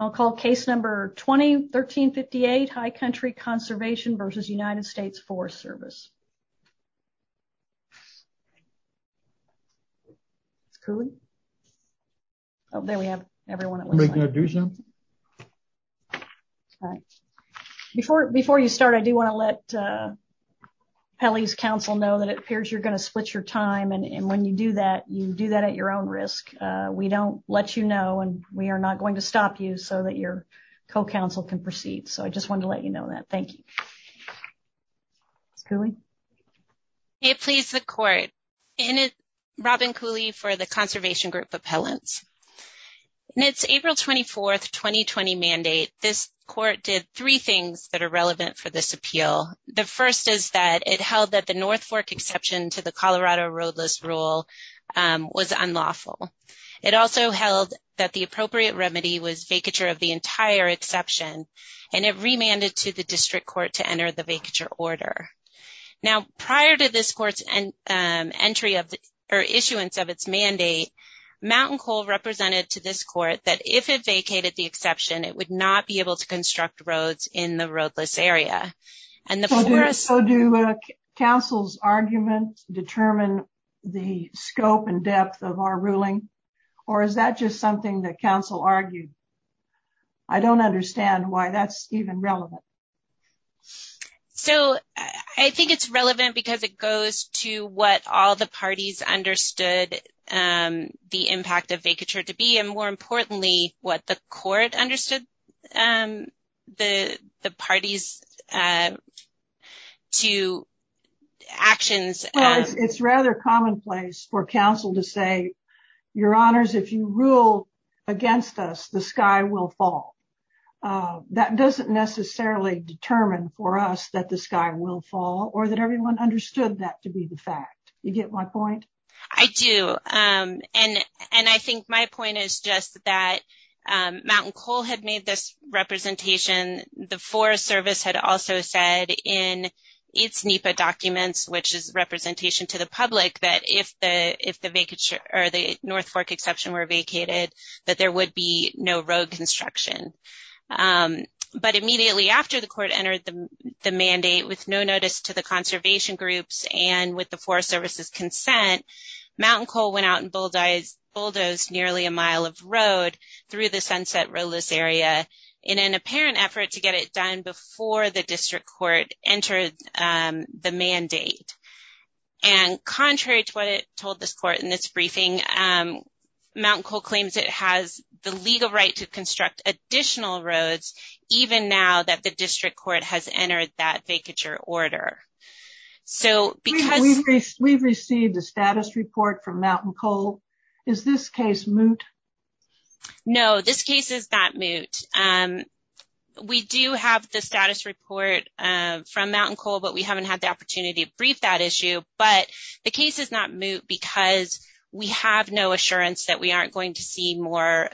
I'll call case number 2013 58 High Country Conservation v. United States Forest Service. Oh, there we have everyone. Before, before you start I do want to let Kelly's counsel know that it appears you're going to split your time and when you do that you do that at your own risk. We don't let you know and we are not going to stop you so that your co counsel can proceed so I just wanted to let you know that. Thank you. Robin Cooley for the Conservation Group Appellants. It's April 24 2020 mandate, this court did three things that are relevant for this appeal. The first is that it held that the North Fork exception to the Colorado roadless rule was unlawful. It also held that the appropriate remedy was vacature of the entire exception, and it remanded to the district court to enter the vacature order. Now, prior to this court's entry of the issuance of its mandate mountain coal represented to this court that if it vacated the exception it would not be able to construct roads in the roadless area. So do counsel's argument, determine the scope and depth of our ruling, or is that just something that counsel argued. I don't understand why that's even relevant. So, I think it's relevant because it goes to what all the parties understood the impact of vacature to be and more importantly, what the court understood the parties to actions. It's rather commonplace for counsel to say, your honors if you rule against us the sky will fall. That doesn't necessarily determine for us that the sky will fall or that everyone understood that to be the fact, you get my point. I do. And, and I think my point is just that mountain coal had made this representation, the Forest Service had also said in its NEPA documents which is representation to the public that if the, if the vacation, or the North Fork exception were vacated that there would be no road construction. But immediately after the court entered the mandate with no notice to the conservation groups and with the Forest Service's consent, mountain coal went out and bulldozed nearly a mile of road through the sunset roadless area in an apparent effort to get it done before the district court entered the mandate. And contrary to what it told this court in this briefing, mountain coal claims it has the legal right to construct additional roads, even now that the district court has entered that vacature order. So, because we've received a status report from mountain coal. Is this case moot. No, this case is not moot. We do have the status report from mountain coal but we haven't had the opportunity to brief that issue, but the case is not moot because we have no assurance that we aren't going to see more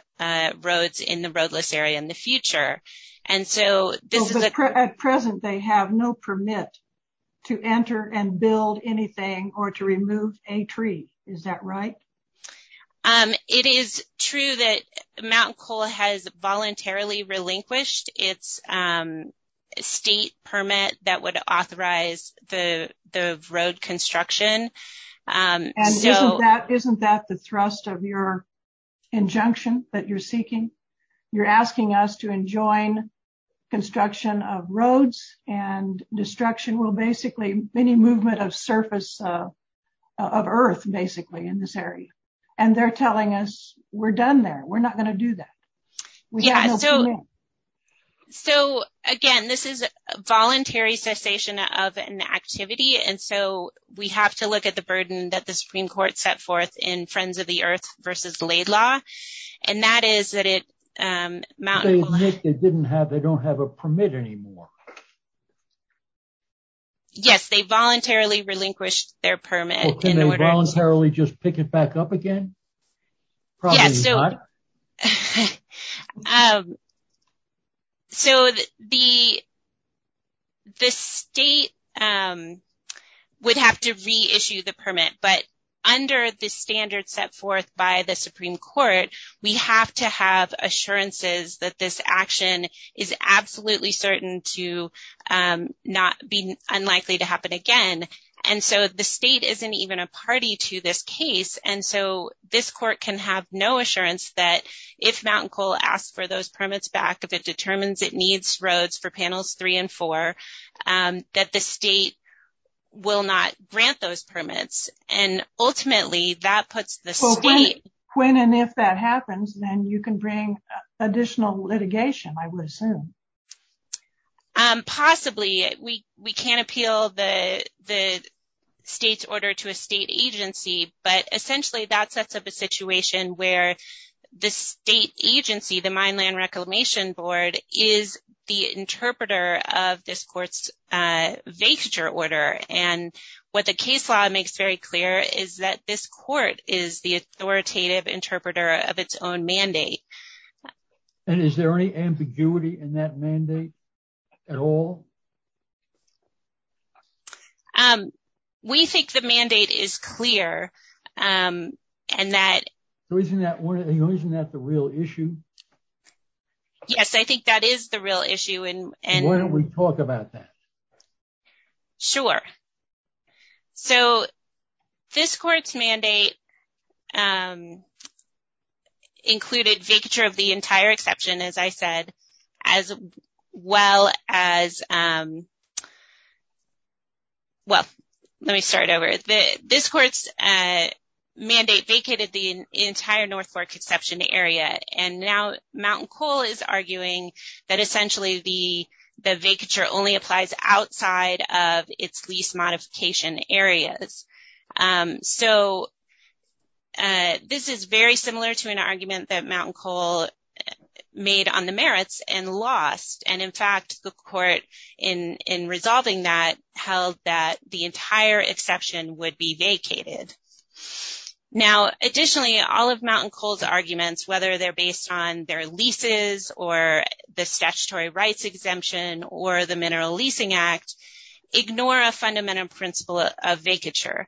roads in the roadless area in the future. And so, this is a present they have no permit to enter and build anything or to remove a tree. Is that right. It is true that mountain coal has voluntarily relinquished its state permit that would authorize the road construction. Isn't that the thrust of your injunction that you're seeking. You're asking us to enjoin construction of roads and destruction will basically many movement of surface of earth basically in this area, and they're telling us, we're done there, we're not going to do that. So, again, this is a voluntary cessation of an activity and so we have to look at the burden that the Supreme Court set forth in friends of the earth versus laid law. And that is that it mountain didn't have they don't have a permit anymore. Yes, they voluntarily relinquished their permit voluntarily just pick it back up again. So, the, the state would have to reissue the permit, but under the standard set forth by the Supreme Court, we have to have assurances that this action is absolutely certain to not be unlikely to happen again. And so the state isn't even a party to this case and so this court can have no assurance that if mountain coal asked for those permits back if it determines it needs roads for panels three and four, that the state will not grant those permits, and ultimately that puts the state. When and if that happens, then you can bring additional litigation, I would assume. Possibly, we, we can appeal the, the state's order to a state agency, but essentially that sets up a situation where the state agency the mine land reclamation board is the interpreter of this courts. Vacature order and what the case law makes very clear is that this court is the authoritative interpreter of its own mandate. And is there any ambiguity in that mandate at all. We think the mandate is clear. And that wasn't that wasn't that the real issue. Yes, I think that is the real issue and, and when we talk about that. Sure. So, this court's mandate. Included feature of the entire exception, as I said, as well as. Well, let me start over this court's mandate vacated the entire North Fork exception area, and now mountain coal is arguing that essentially the, the vacature only applies outside of its lease modification areas. So, this is very similar to an argument that mountain coal made on the merits and lost and in fact the court in in resolving that held that the entire exception would be vacated. Now, additionally, all of mountain cold arguments, whether they're based on their leases or the statutory rights exemption or the mineral leasing act, ignore a fundamental principle of vacature.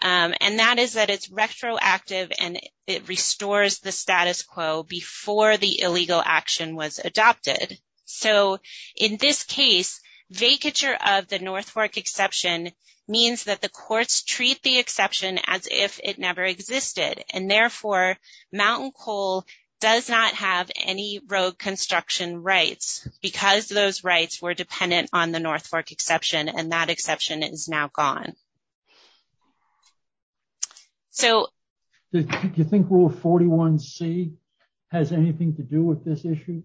And that is that it's retroactive and it restores the status quo before the illegal action was adopted. So, in this case, vacature of the North Fork exception means that the courts treat the exception as if it never existed and therefore mountain coal does not have any road construction rights, because those rights were dependent on the North Fork exception and that exception is now gone. So, do you think rule 41 C has anything to do with this issue?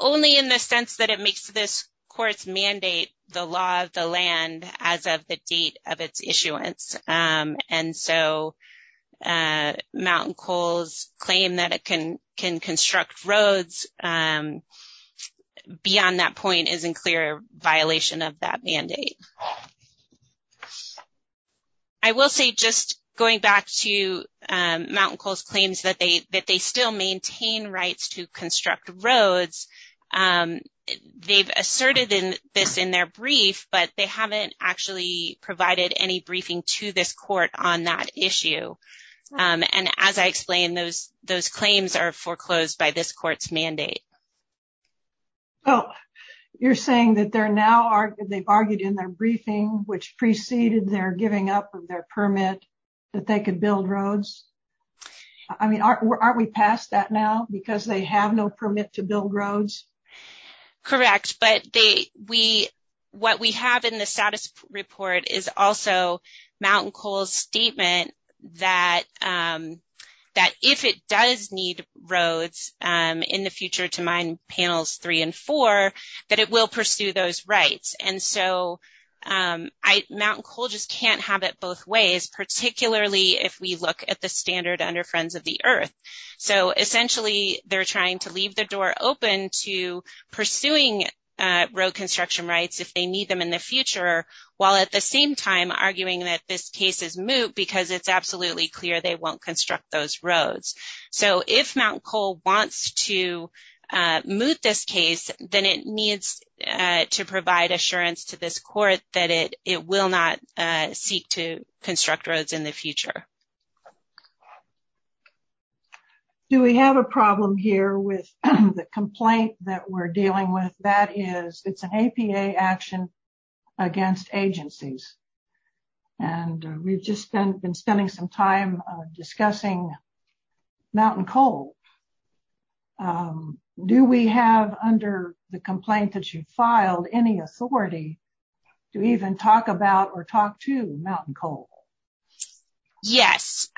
Only in the sense that it makes this court's mandate the law of the land as of the date of its issuance. And so, mountain coals claim that it can can construct roads beyond that point is in clear violation of that mandate. I will say just going back to mountain coals claims that they that they still maintain rights to construct roads. They've asserted in this in their brief, but they haven't actually provided any briefing to this court on that issue. And as I explained, those, those claims are foreclosed by this court's mandate. Oh, you're saying that they're now are they've argued in their briefing, which preceded their giving up their permit that they could build roads. I mean, aren't we past that now? Because they have no permit to build roads. Correct, but they we what we have in the status report is also mountain coal statement that that if it does need roads in the future to mine panels, 3 and 4, that it will pursue those rights. And so I mountain coal just can't have it both ways, particularly if we look at the standard under friends of the earth. So, essentially, they're trying to leave the door open to pursuing road construction rights if they need them in the future, while at the same time arguing that this case is moot because it's absolutely clear they won't construct those roads. So, if mountain coal wants to move this case, then it needs to provide assurance to this court that it, it will not seek to construct roads in the future. Do we have a problem here with the complaint that we're dealing with that is it's an action. Against agencies, and we've just been spending some time discussing mountain coal. Do we have under the complaint that you filed any authority to even talk about or talk to mountain coal. Yes,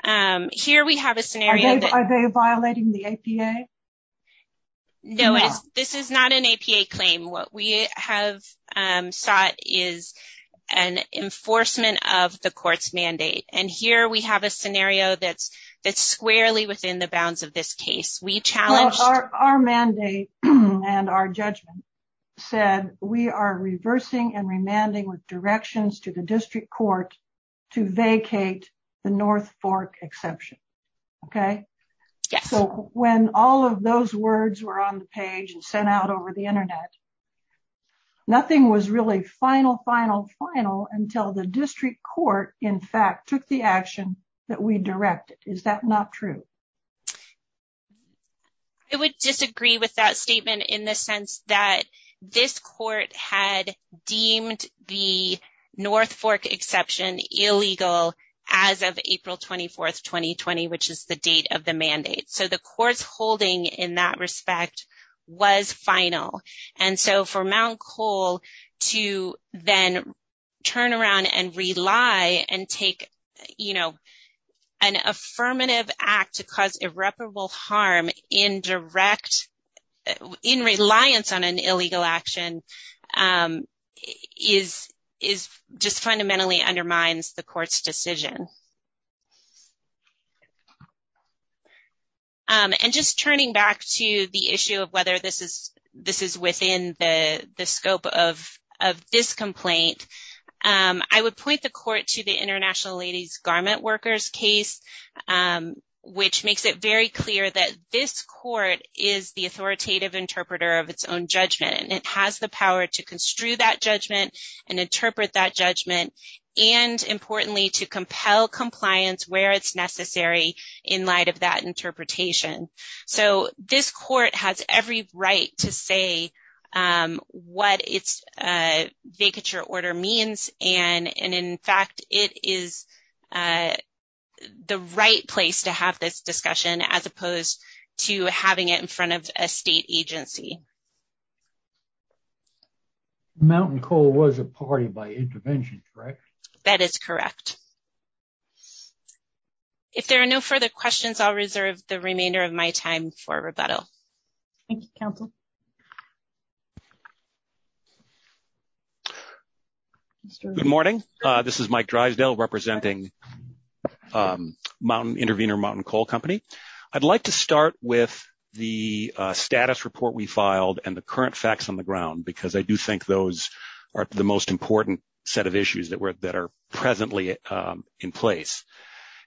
here we have a scenario that are they violating the. This is not an APA claim what we have sought is an enforcement of the courts mandate and here we have a scenario that's that's squarely within the bounds of this case. Our mandate, and our judgment said we are reversing and remanding with directions to the district court to vacate the North Fork exception. Okay. So, when all of those words were on the page and sent out over the internet. Nothing was really final final final until the district court, in fact, took the action that we directed, is that not true. I would disagree with that statement in the sense that this court had deemed the North Fork exception illegal as of April 24 2020, which is the date of the mandate. So the courts holding in that respect was final. And so for mount coal to then turn around and rely and take, you know, an affirmative act to cause irreparable harm in direct in reliance on an illegal action is, is just fundamentally undermines the court's decision. And just turning back to the issue of whether this is this is within the scope of of this complaint. I would point the court to the international ladies garment workers case, which makes it very clear that this court is the authoritative interpreter of its own judgment and it has the power to construe that judgment and interpret that judgment. And importantly to compel compliance where it's necessary in light of that interpretation. So, this court has every right to say what it's vacature order means and and in fact, it is the right place to have this discussion as opposed to having it in front of a state agency. Mountain coal was a party by intervention. That is correct. If there are no further questions, I'll reserve the remainder of my time for rebuttal. Thank you, counsel. Good morning. This is Mike Drysdale representing Mountain Intervenor Mountain Coal Company. I'd like to start with the status report we filed and the current facts on the ground, because I do think those are the most important set of issues that were that are presently in place.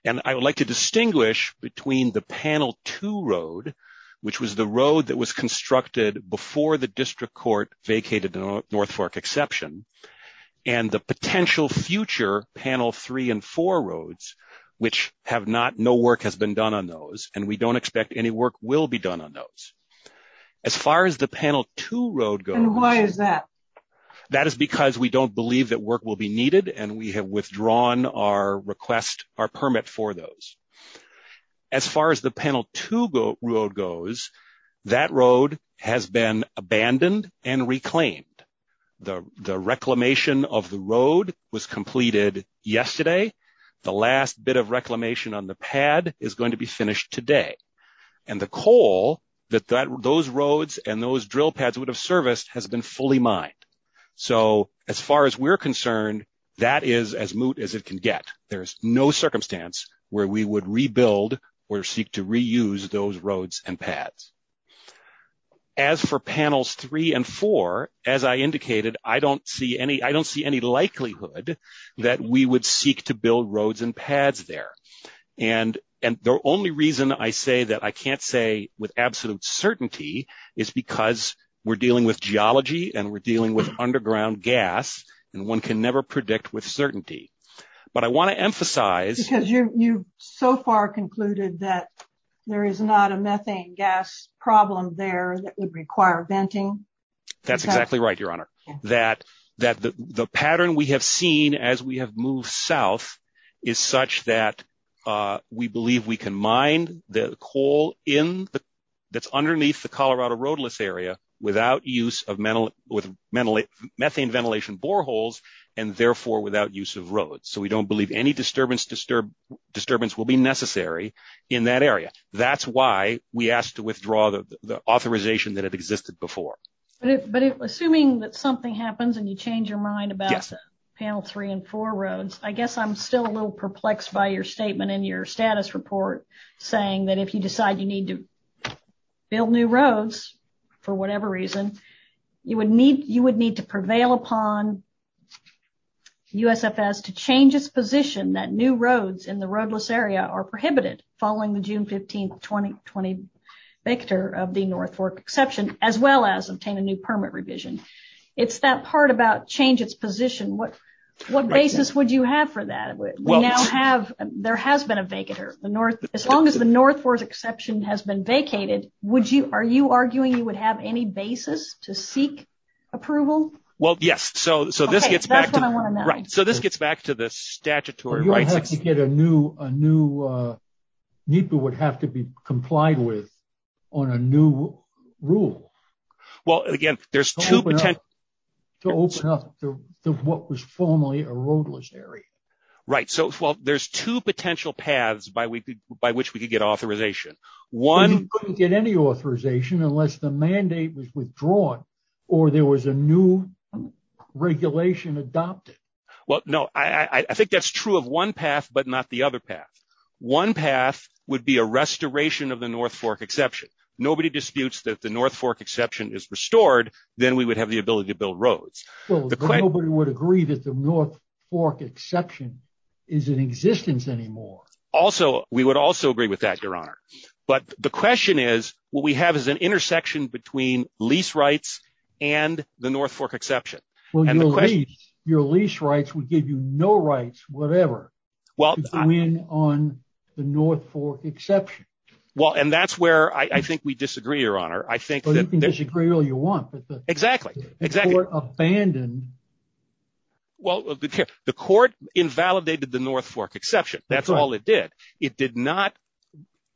And I would like to distinguish between the panel two road, which was the road that was constructed before the district court vacated North Fork exception and the potential future panel three and four roads, which have not no work has been done on those. And we don't expect any work will be done on those. As far as the panel to road go, why is that? That is because we don't believe that work will be needed and we have withdrawn our request our permit for those. As far as the panel to go road goes, that road has been abandoned and reclaimed the reclamation of the road was completed yesterday. The last bit of reclamation on the pad is going to be finished today. And the coal that those roads and those drill pads would have serviced has been fully mined. So as far as we're concerned, that is as moot as it can get. There's no circumstance where we would rebuild or seek to reuse those roads and pads. As for panels three and four, as I indicated, I don't see any likelihood that we would seek to build roads and pads there. And the only reason I say that I can't say with absolute certainty is because we're dealing with geology and we're dealing with underground gas. And one can never predict with certainty. But I want to emphasize because you so far concluded that there is not a methane gas problem there that would require venting. That's exactly right, Your Honor. That the pattern we have seen as we have moved south is such that we believe we can mine the coal that's underneath the Colorado roadless area without use of methane ventilation boreholes and therefore without use of roads. So we don't believe any disturbance will be necessary in that area. That's why we asked to withdraw the authorization that had existed before. But assuming that something happens and you change your mind about panel three and four roads, I guess I'm still a little perplexed by your statement in your status report saying that if you decide you need to build new roads for whatever reason, you would need you would need to prevail upon USFS to change its position that new roads in the roadless area are prohibited, following the June 15 2020 vector of the North Fork exception, as well as obtain a new permit revision. It's that part about change its position what what basis would you have for that. There has been a vacant or the North. As long as the North Fork exception has been vacated. Would you are you arguing you would have any basis to seek approval. Well, yes. So, so this gets back. So this gets back to the statutory rights to get a new a new need to would have to be complied with on a new rule. Well, again, there's to open up to what was formerly a roadless area. Right. So, well, there's two potential paths by week by which we could get authorization. One get any authorization unless the mandate was withdrawn or there was a new regulation adopted. Well, no, I think that's true of one path, but not the other path. One path would be a restoration of the North Fork exception. Nobody disputes that the North Fork exception is restored, then we would have the ability to build roads. Nobody would agree that the North Fork exception is in existence anymore. Also, we would also agree with that, Your Honor. But the question is, what we have is an intersection between lease rights and the North Fork exception. Well, your lease rights would give you no rights, whatever. Well, I mean, on the North Fork exception. Well, and that's where I think we disagree, Your Honor. I think that you can disagree all you want. Exactly. Exactly. Abandon. Well, the court invalidated the North Fork exception. That's all it did. It did not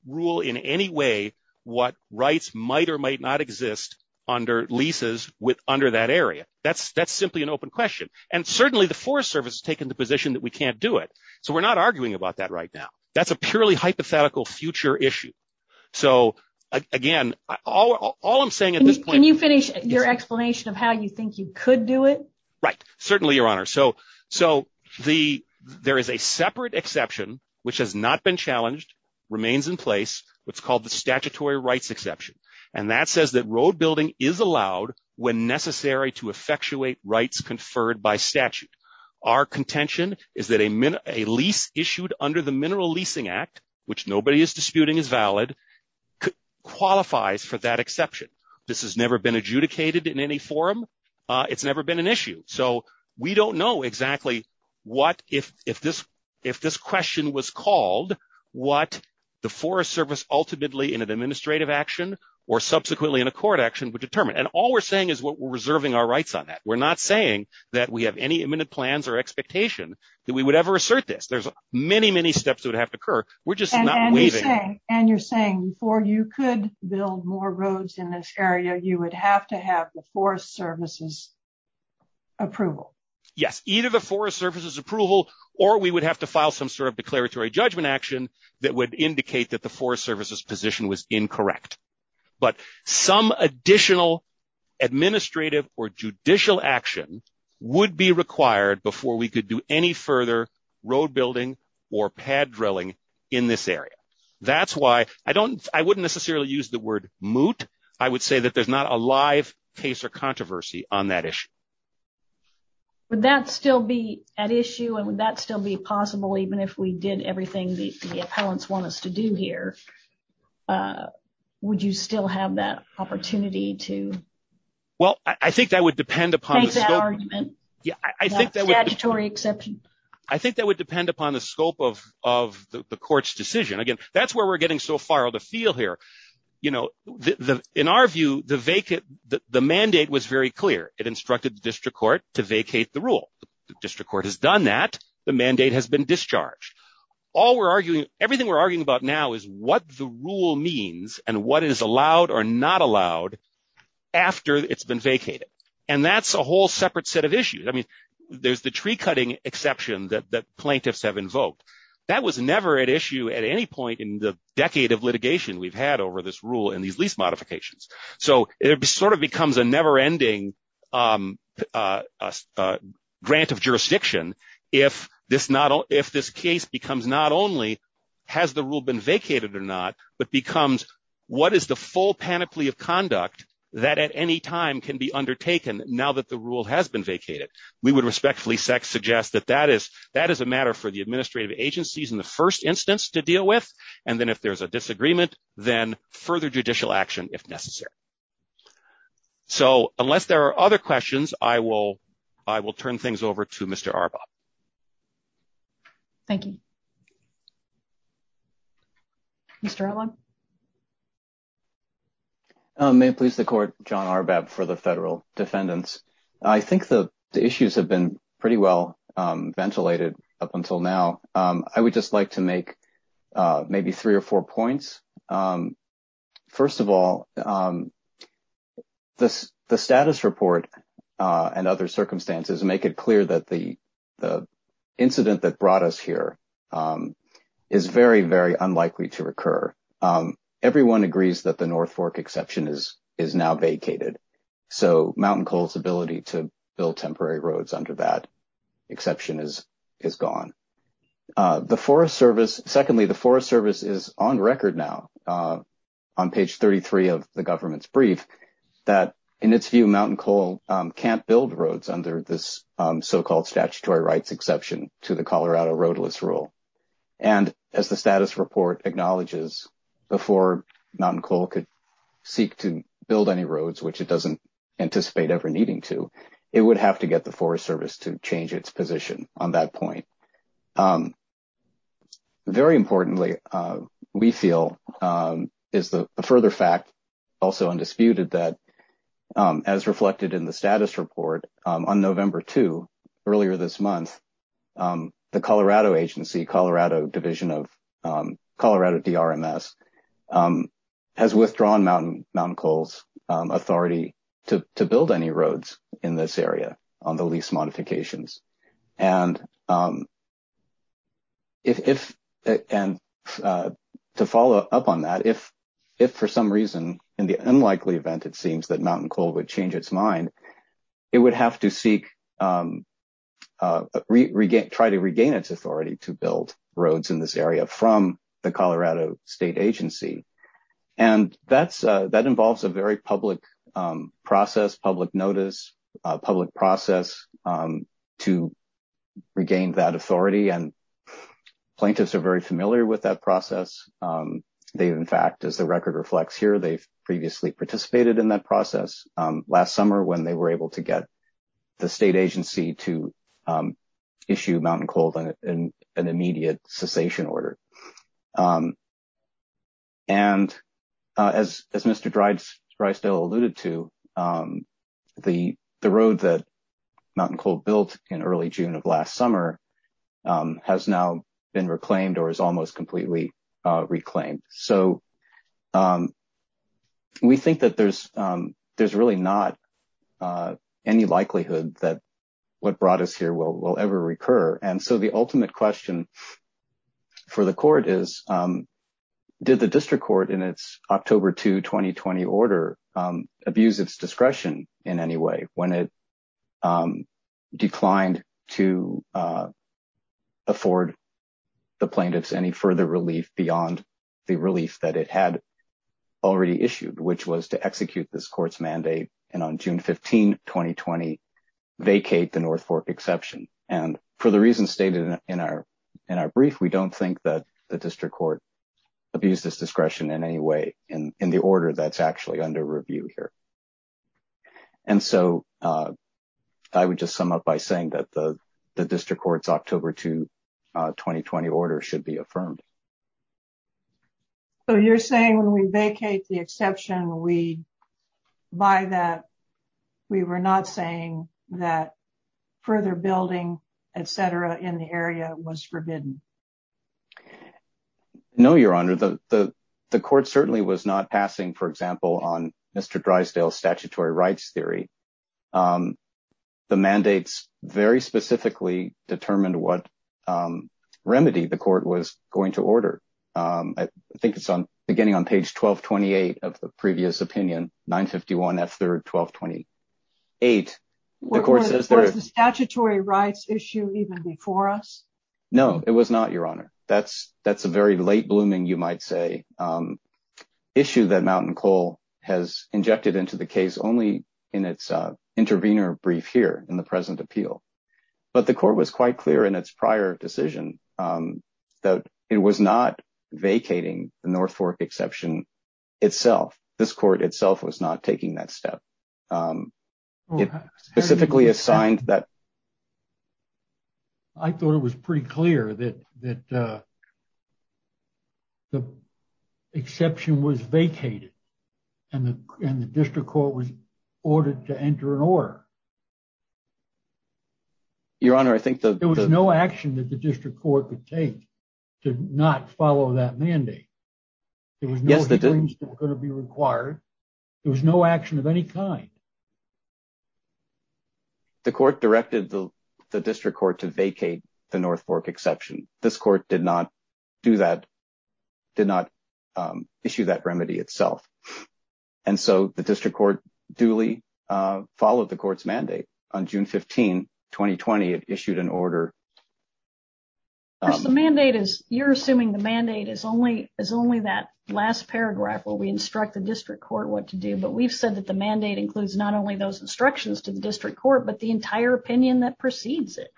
rule in any way what rights might or might not exist under leases with under that area. That's that's simply an open question. And certainly the Forest Service has taken the position that we can't do it. So we're not arguing about that right now. That's a purely hypothetical future issue. So, again, all I'm saying is, can you finish your explanation of how you think you could do it? Right. Certainly, Your Honor. So so the there is a separate exception which has not been challenged, remains in place. What's called the statutory rights exception. And that says that road building is allowed when necessary to effectuate rights conferred by statute. Our contention is that a minute, a lease issued under the Mineral Leasing Act, which nobody is disputing is valid, qualifies for that exception. This has never been adjudicated in any forum. It's never been an issue. So we don't know exactly what if if this if this question was called, what the Forest Service ultimately in an administrative action or subsequently in a court action would determine. And all we're saying is what we're reserving our rights on that. We're not saying that we have any imminent plans or expectation that we would ever assert this. There's many, many steps would have to occur. We're just not leaving. And you're saying before you could build more roads in this area, you would have to have the Forest Service's approval. Yes. Either the Forest Service's approval or we would have to file some sort of declaratory judgment action that would indicate that the Forest Service's position was incorrect. But some additional administrative or judicial action would be required before we could do any further road building or pad drilling in this area. That's why I don't I wouldn't necessarily use the word moot. I would say that there's not a live case or controversy on that issue. Would that still be an issue and would that still be possible, even if we did everything the appellants want us to do here? Would you still have that opportunity to? Well, I think that would depend upon the argument. Yeah, I think that would be a statutory exception. I think that would depend upon the scope of of the court's decision. Again, that's where we're getting so far to feel here. You know, in our view, the vacant the mandate was very clear. It instructed the district court to vacate the rule. The district court has done that. The mandate has been discharged. All we're arguing, everything we're arguing about now is what the rule means and what is allowed or not allowed after it's been vacated. And that's a whole separate set of issues. I mean, there's the tree cutting exception that the plaintiffs have invoked. That was never an issue at any point in the decade of litigation we've had over this rule in these lease modifications. So it sort of becomes a never ending grant of jurisdiction if this not if this case becomes not only has the rule been vacated or not, but becomes what is the full panoply of conduct that at any time can be undertaken now that the rule has been vacated? We would respectfully suggest that that is that is a matter for the administrative agencies in the first instance to deal with. And then if there's a disagreement, then further judicial action if necessary. So unless there are other questions, I will I will turn things over to Mr. Arbaugh. Thank you. Mr. I would just like to make maybe three or four points. First of all, this the status report and other circumstances make it clear that the the incident that brought us here is very, very unlikely to occur. Everyone agrees that the North Fork exception is is now vacated. So Mountain Coal's ability to build temporary roads under that exception is is gone. The Forest Service. Secondly, the Forest Service is on record now on page 33 of the government's brief that in its view, Mountain Coal can't build roads under this so-called statutory rights exception to the Colorado roadless rule. And as the status report acknowledges, before Mountain Coal could seek to build any roads, which it doesn't anticipate ever needing to, it would have to get the Forest Service to change its position on that point. Very importantly, we feel is the further fact also undisputed that as reflected in the status report on November two earlier this month, the Colorado agency, Colorado Division of Colorado DRMS has withdrawn Mountain Coal's authority to build any roads in this area on the lease modifications. And if and to follow up on that, if if for some reason in the unlikely event, it seems that Mountain Coal would change its mind, it would have to seek, try to regain its authority to build roads in this area from the Colorado state agency. And that's that involves a very public process, public notice, public process to regain that authority. And plaintiffs are very familiar with that process. In fact, as the record reflects here, they've previously participated in that process last summer when they were able to get the state agency to issue Mountain Coal an immediate cessation order. And as Mr. Drysdale alluded to, the road that Mountain Coal built in early June of last summer has now been reclaimed or is almost completely reclaimed. So we think that there's really not any likelihood that what brought us here will ever recur. And so the ultimate question for the court is, did the district court in its October 2, 2020 order, abuse its discretion in any way when it declined to afford the plaintiffs any further relief beyond the relief that it had already issued, which was to execute this court's mandate and on June 15, 2020, vacate the North Fork exception. And for the reasons stated in our brief, we don't think that the district court abused its discretion in any way in the order that's actually under review here. And so I would just sum up by saying that the district court's October 2, 2020 order should be affirmed. So you're saying when we vacate the exception, we buy that. We were not saying that further building, et cetera, in the area was forbidden. No, Your Honor, the the court certainly was not passing, for example, on Mr. Drysdale's statutory rights theory. The mandates very specifically determined what remedy the court was going to order. I think it's on beginning on page 12, 28 of the previous opinion, 951 F. Third, 12, 28, of course, as the statutory rights issue even before us. No, it was not, Your Honor. That's that's a very late blooming, you might say, issue that Mountain Coal has injected into the case only in its intervener brief here in the present appeal. But the court was quite clear in its prior decision that it was not vacating the North Fork exception itself. This court itself was not taking that step. It specifically assigned that. I thought it was pretty clear that that. The exception was vacated and the district court was ordered to enter an order. Your Honor, I think there was no action that the district court could take to not follow that mandate. It was going to be required. There was no action of any kind. The court directed the district court to vacate the North Fork exception. This court did not do that, did not issue that remedy itself. And so the district court duly followed the court's mandate on June 15, 2020. It issued an order. The mandate is you're assuming the mandate is only is only that last paragraph where we instruct the district court what to do. But we've said that the mandate includes not only those instructions to the district court, but the entire opinion that precedes it.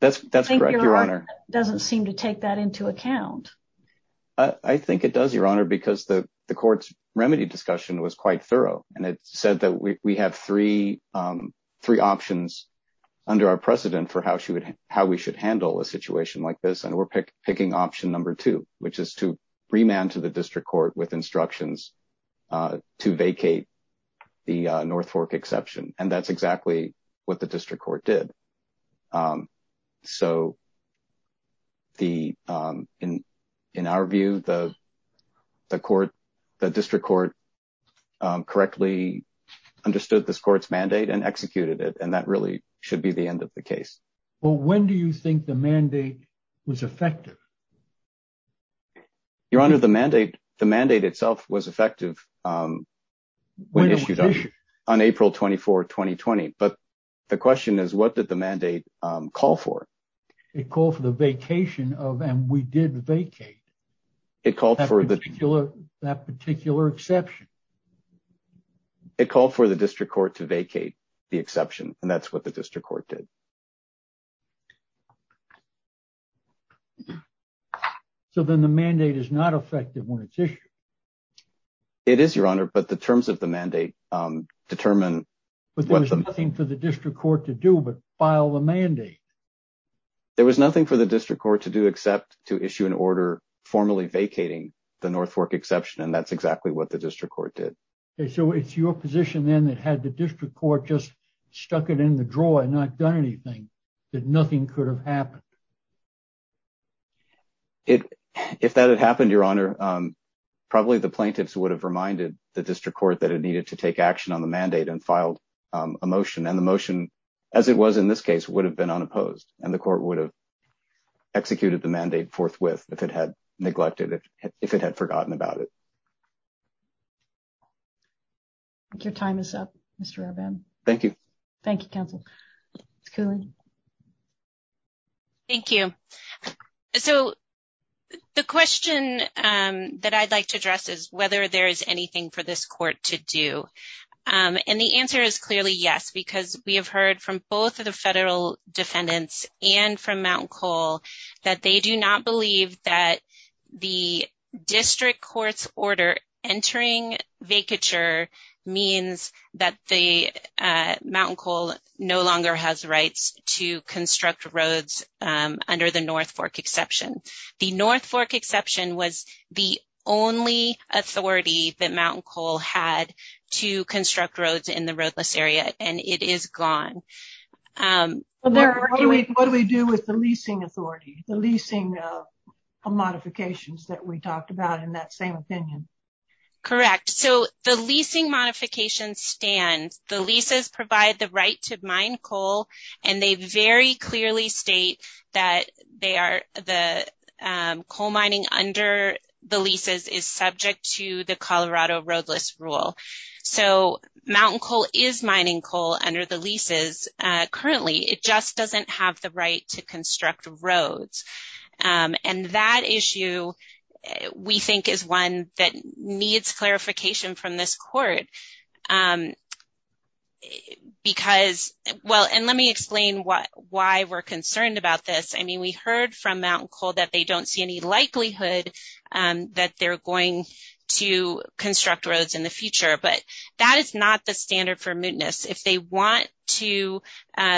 That's that's correct. Your Honor doesn't seem to take that into account. I think it does, Your Honor, because the court's remedy discussion was quite thorough. And it said that we have three three options under our precedent for how she would how we should handle a situation like this. And we're picking option number two, which is to remand to the district court with instructions to vacate the North Fork exception. And that's exactly what the district court did. So. The in in our view, the the court, the district court correctly understood this court's mandate and executed it, and that really should be the end of the case. Well, when do you think the mandate was effective? Your Honor, the mandate, the mandate itself was effective when issued on April 24, 2020. But the question is, what did the mandate call for? It called for the vacation of and we did vacate. It called for that particular that particular exception. It called for the district court to vacate the exception, and that's what the district court did. So then the mandate is not effective when it's issued. It is, Your Honor, but the terms of the mandate determine, but there's nothing for the district court to do but file a mandate. There was nothing for the district court to do except to issue an order formally vacating the North Fork exception, and that's exactly what the district court did. So it's your position then that had the district court just stuck it in the drawer and not done anything, that nothing could have happened. If that had happened, Your Honor, probably the plaintiffs would have reminded the district court that it needed to take action on the mandate and filed a motion. And the motion, as it was in this case, would have been unopposed. And the court would have executed the mandate forthwith if it had neglected it, if it had forgotten about it. Your time is up, Mr. Rabin. Thank you. Thank you, counsel. Thank you. So the question that I'd like to address is whether there is anything for this court to do. And the answer is clearly yes, because we have heard from both of the federal defendants and from Mt. Cole that they do not believe that the district court's order entering vacature means that the Mt. Cole no longer has rights to construct roads under the North Fork exception. The North Fork exception was the only authority that Mt. Cole had to construct roads in the roadless area, and it is gone. What do we do with the leasing authority, the leasing modifications that we talked about in that same opinion? Correct. So the leasing modifications stand. The leases provide the right to mine coal, and they very clearly state that the coal mining under the leases is subject to the Colorado roadless rule. So Mt. Cole is mining coal under the leases currently. It just doesn't have the right to construct roads. And that issue, we think, is one that needs clarification from this court. Because, well, and let me explain why we're concerned about this. I mean, we heard from Mt. Cole that they don't see any likelihood that they're going to construct roads in the future. But that is not the standard for mootness. If they want to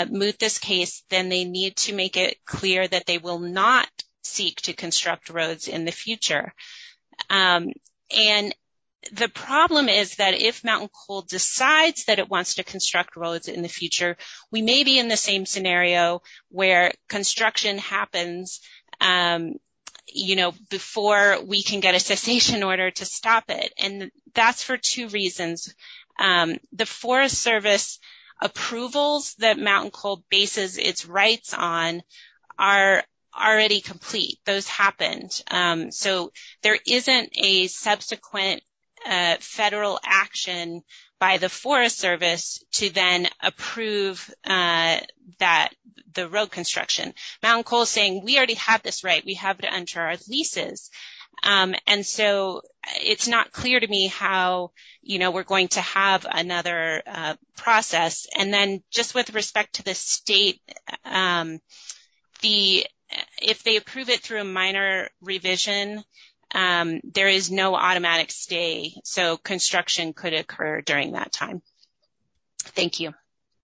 moot this case, then they need to make it clear that they will not seek to construct roads in the future. And the problem is that if Mt. Cole decides that it wants to construct roads in the future, we may be in the same scenario where construction happens before we can get a cessation order to stop it. And that's for two reasons. The Forest Service approvals that Mt. Cole bases its rights on are already complete. Those happened. So there isn't a subsequent federal action by the Forest Service to then approve the road construction. Mt. Cole is saying, we already have this right. We have to enter our leases. And so it's not clear to me how we're going to have another process. And then just with respect to the state, if they approve it through a minor revision, there is no automatic stay. So construction could occur during that time. Thank you.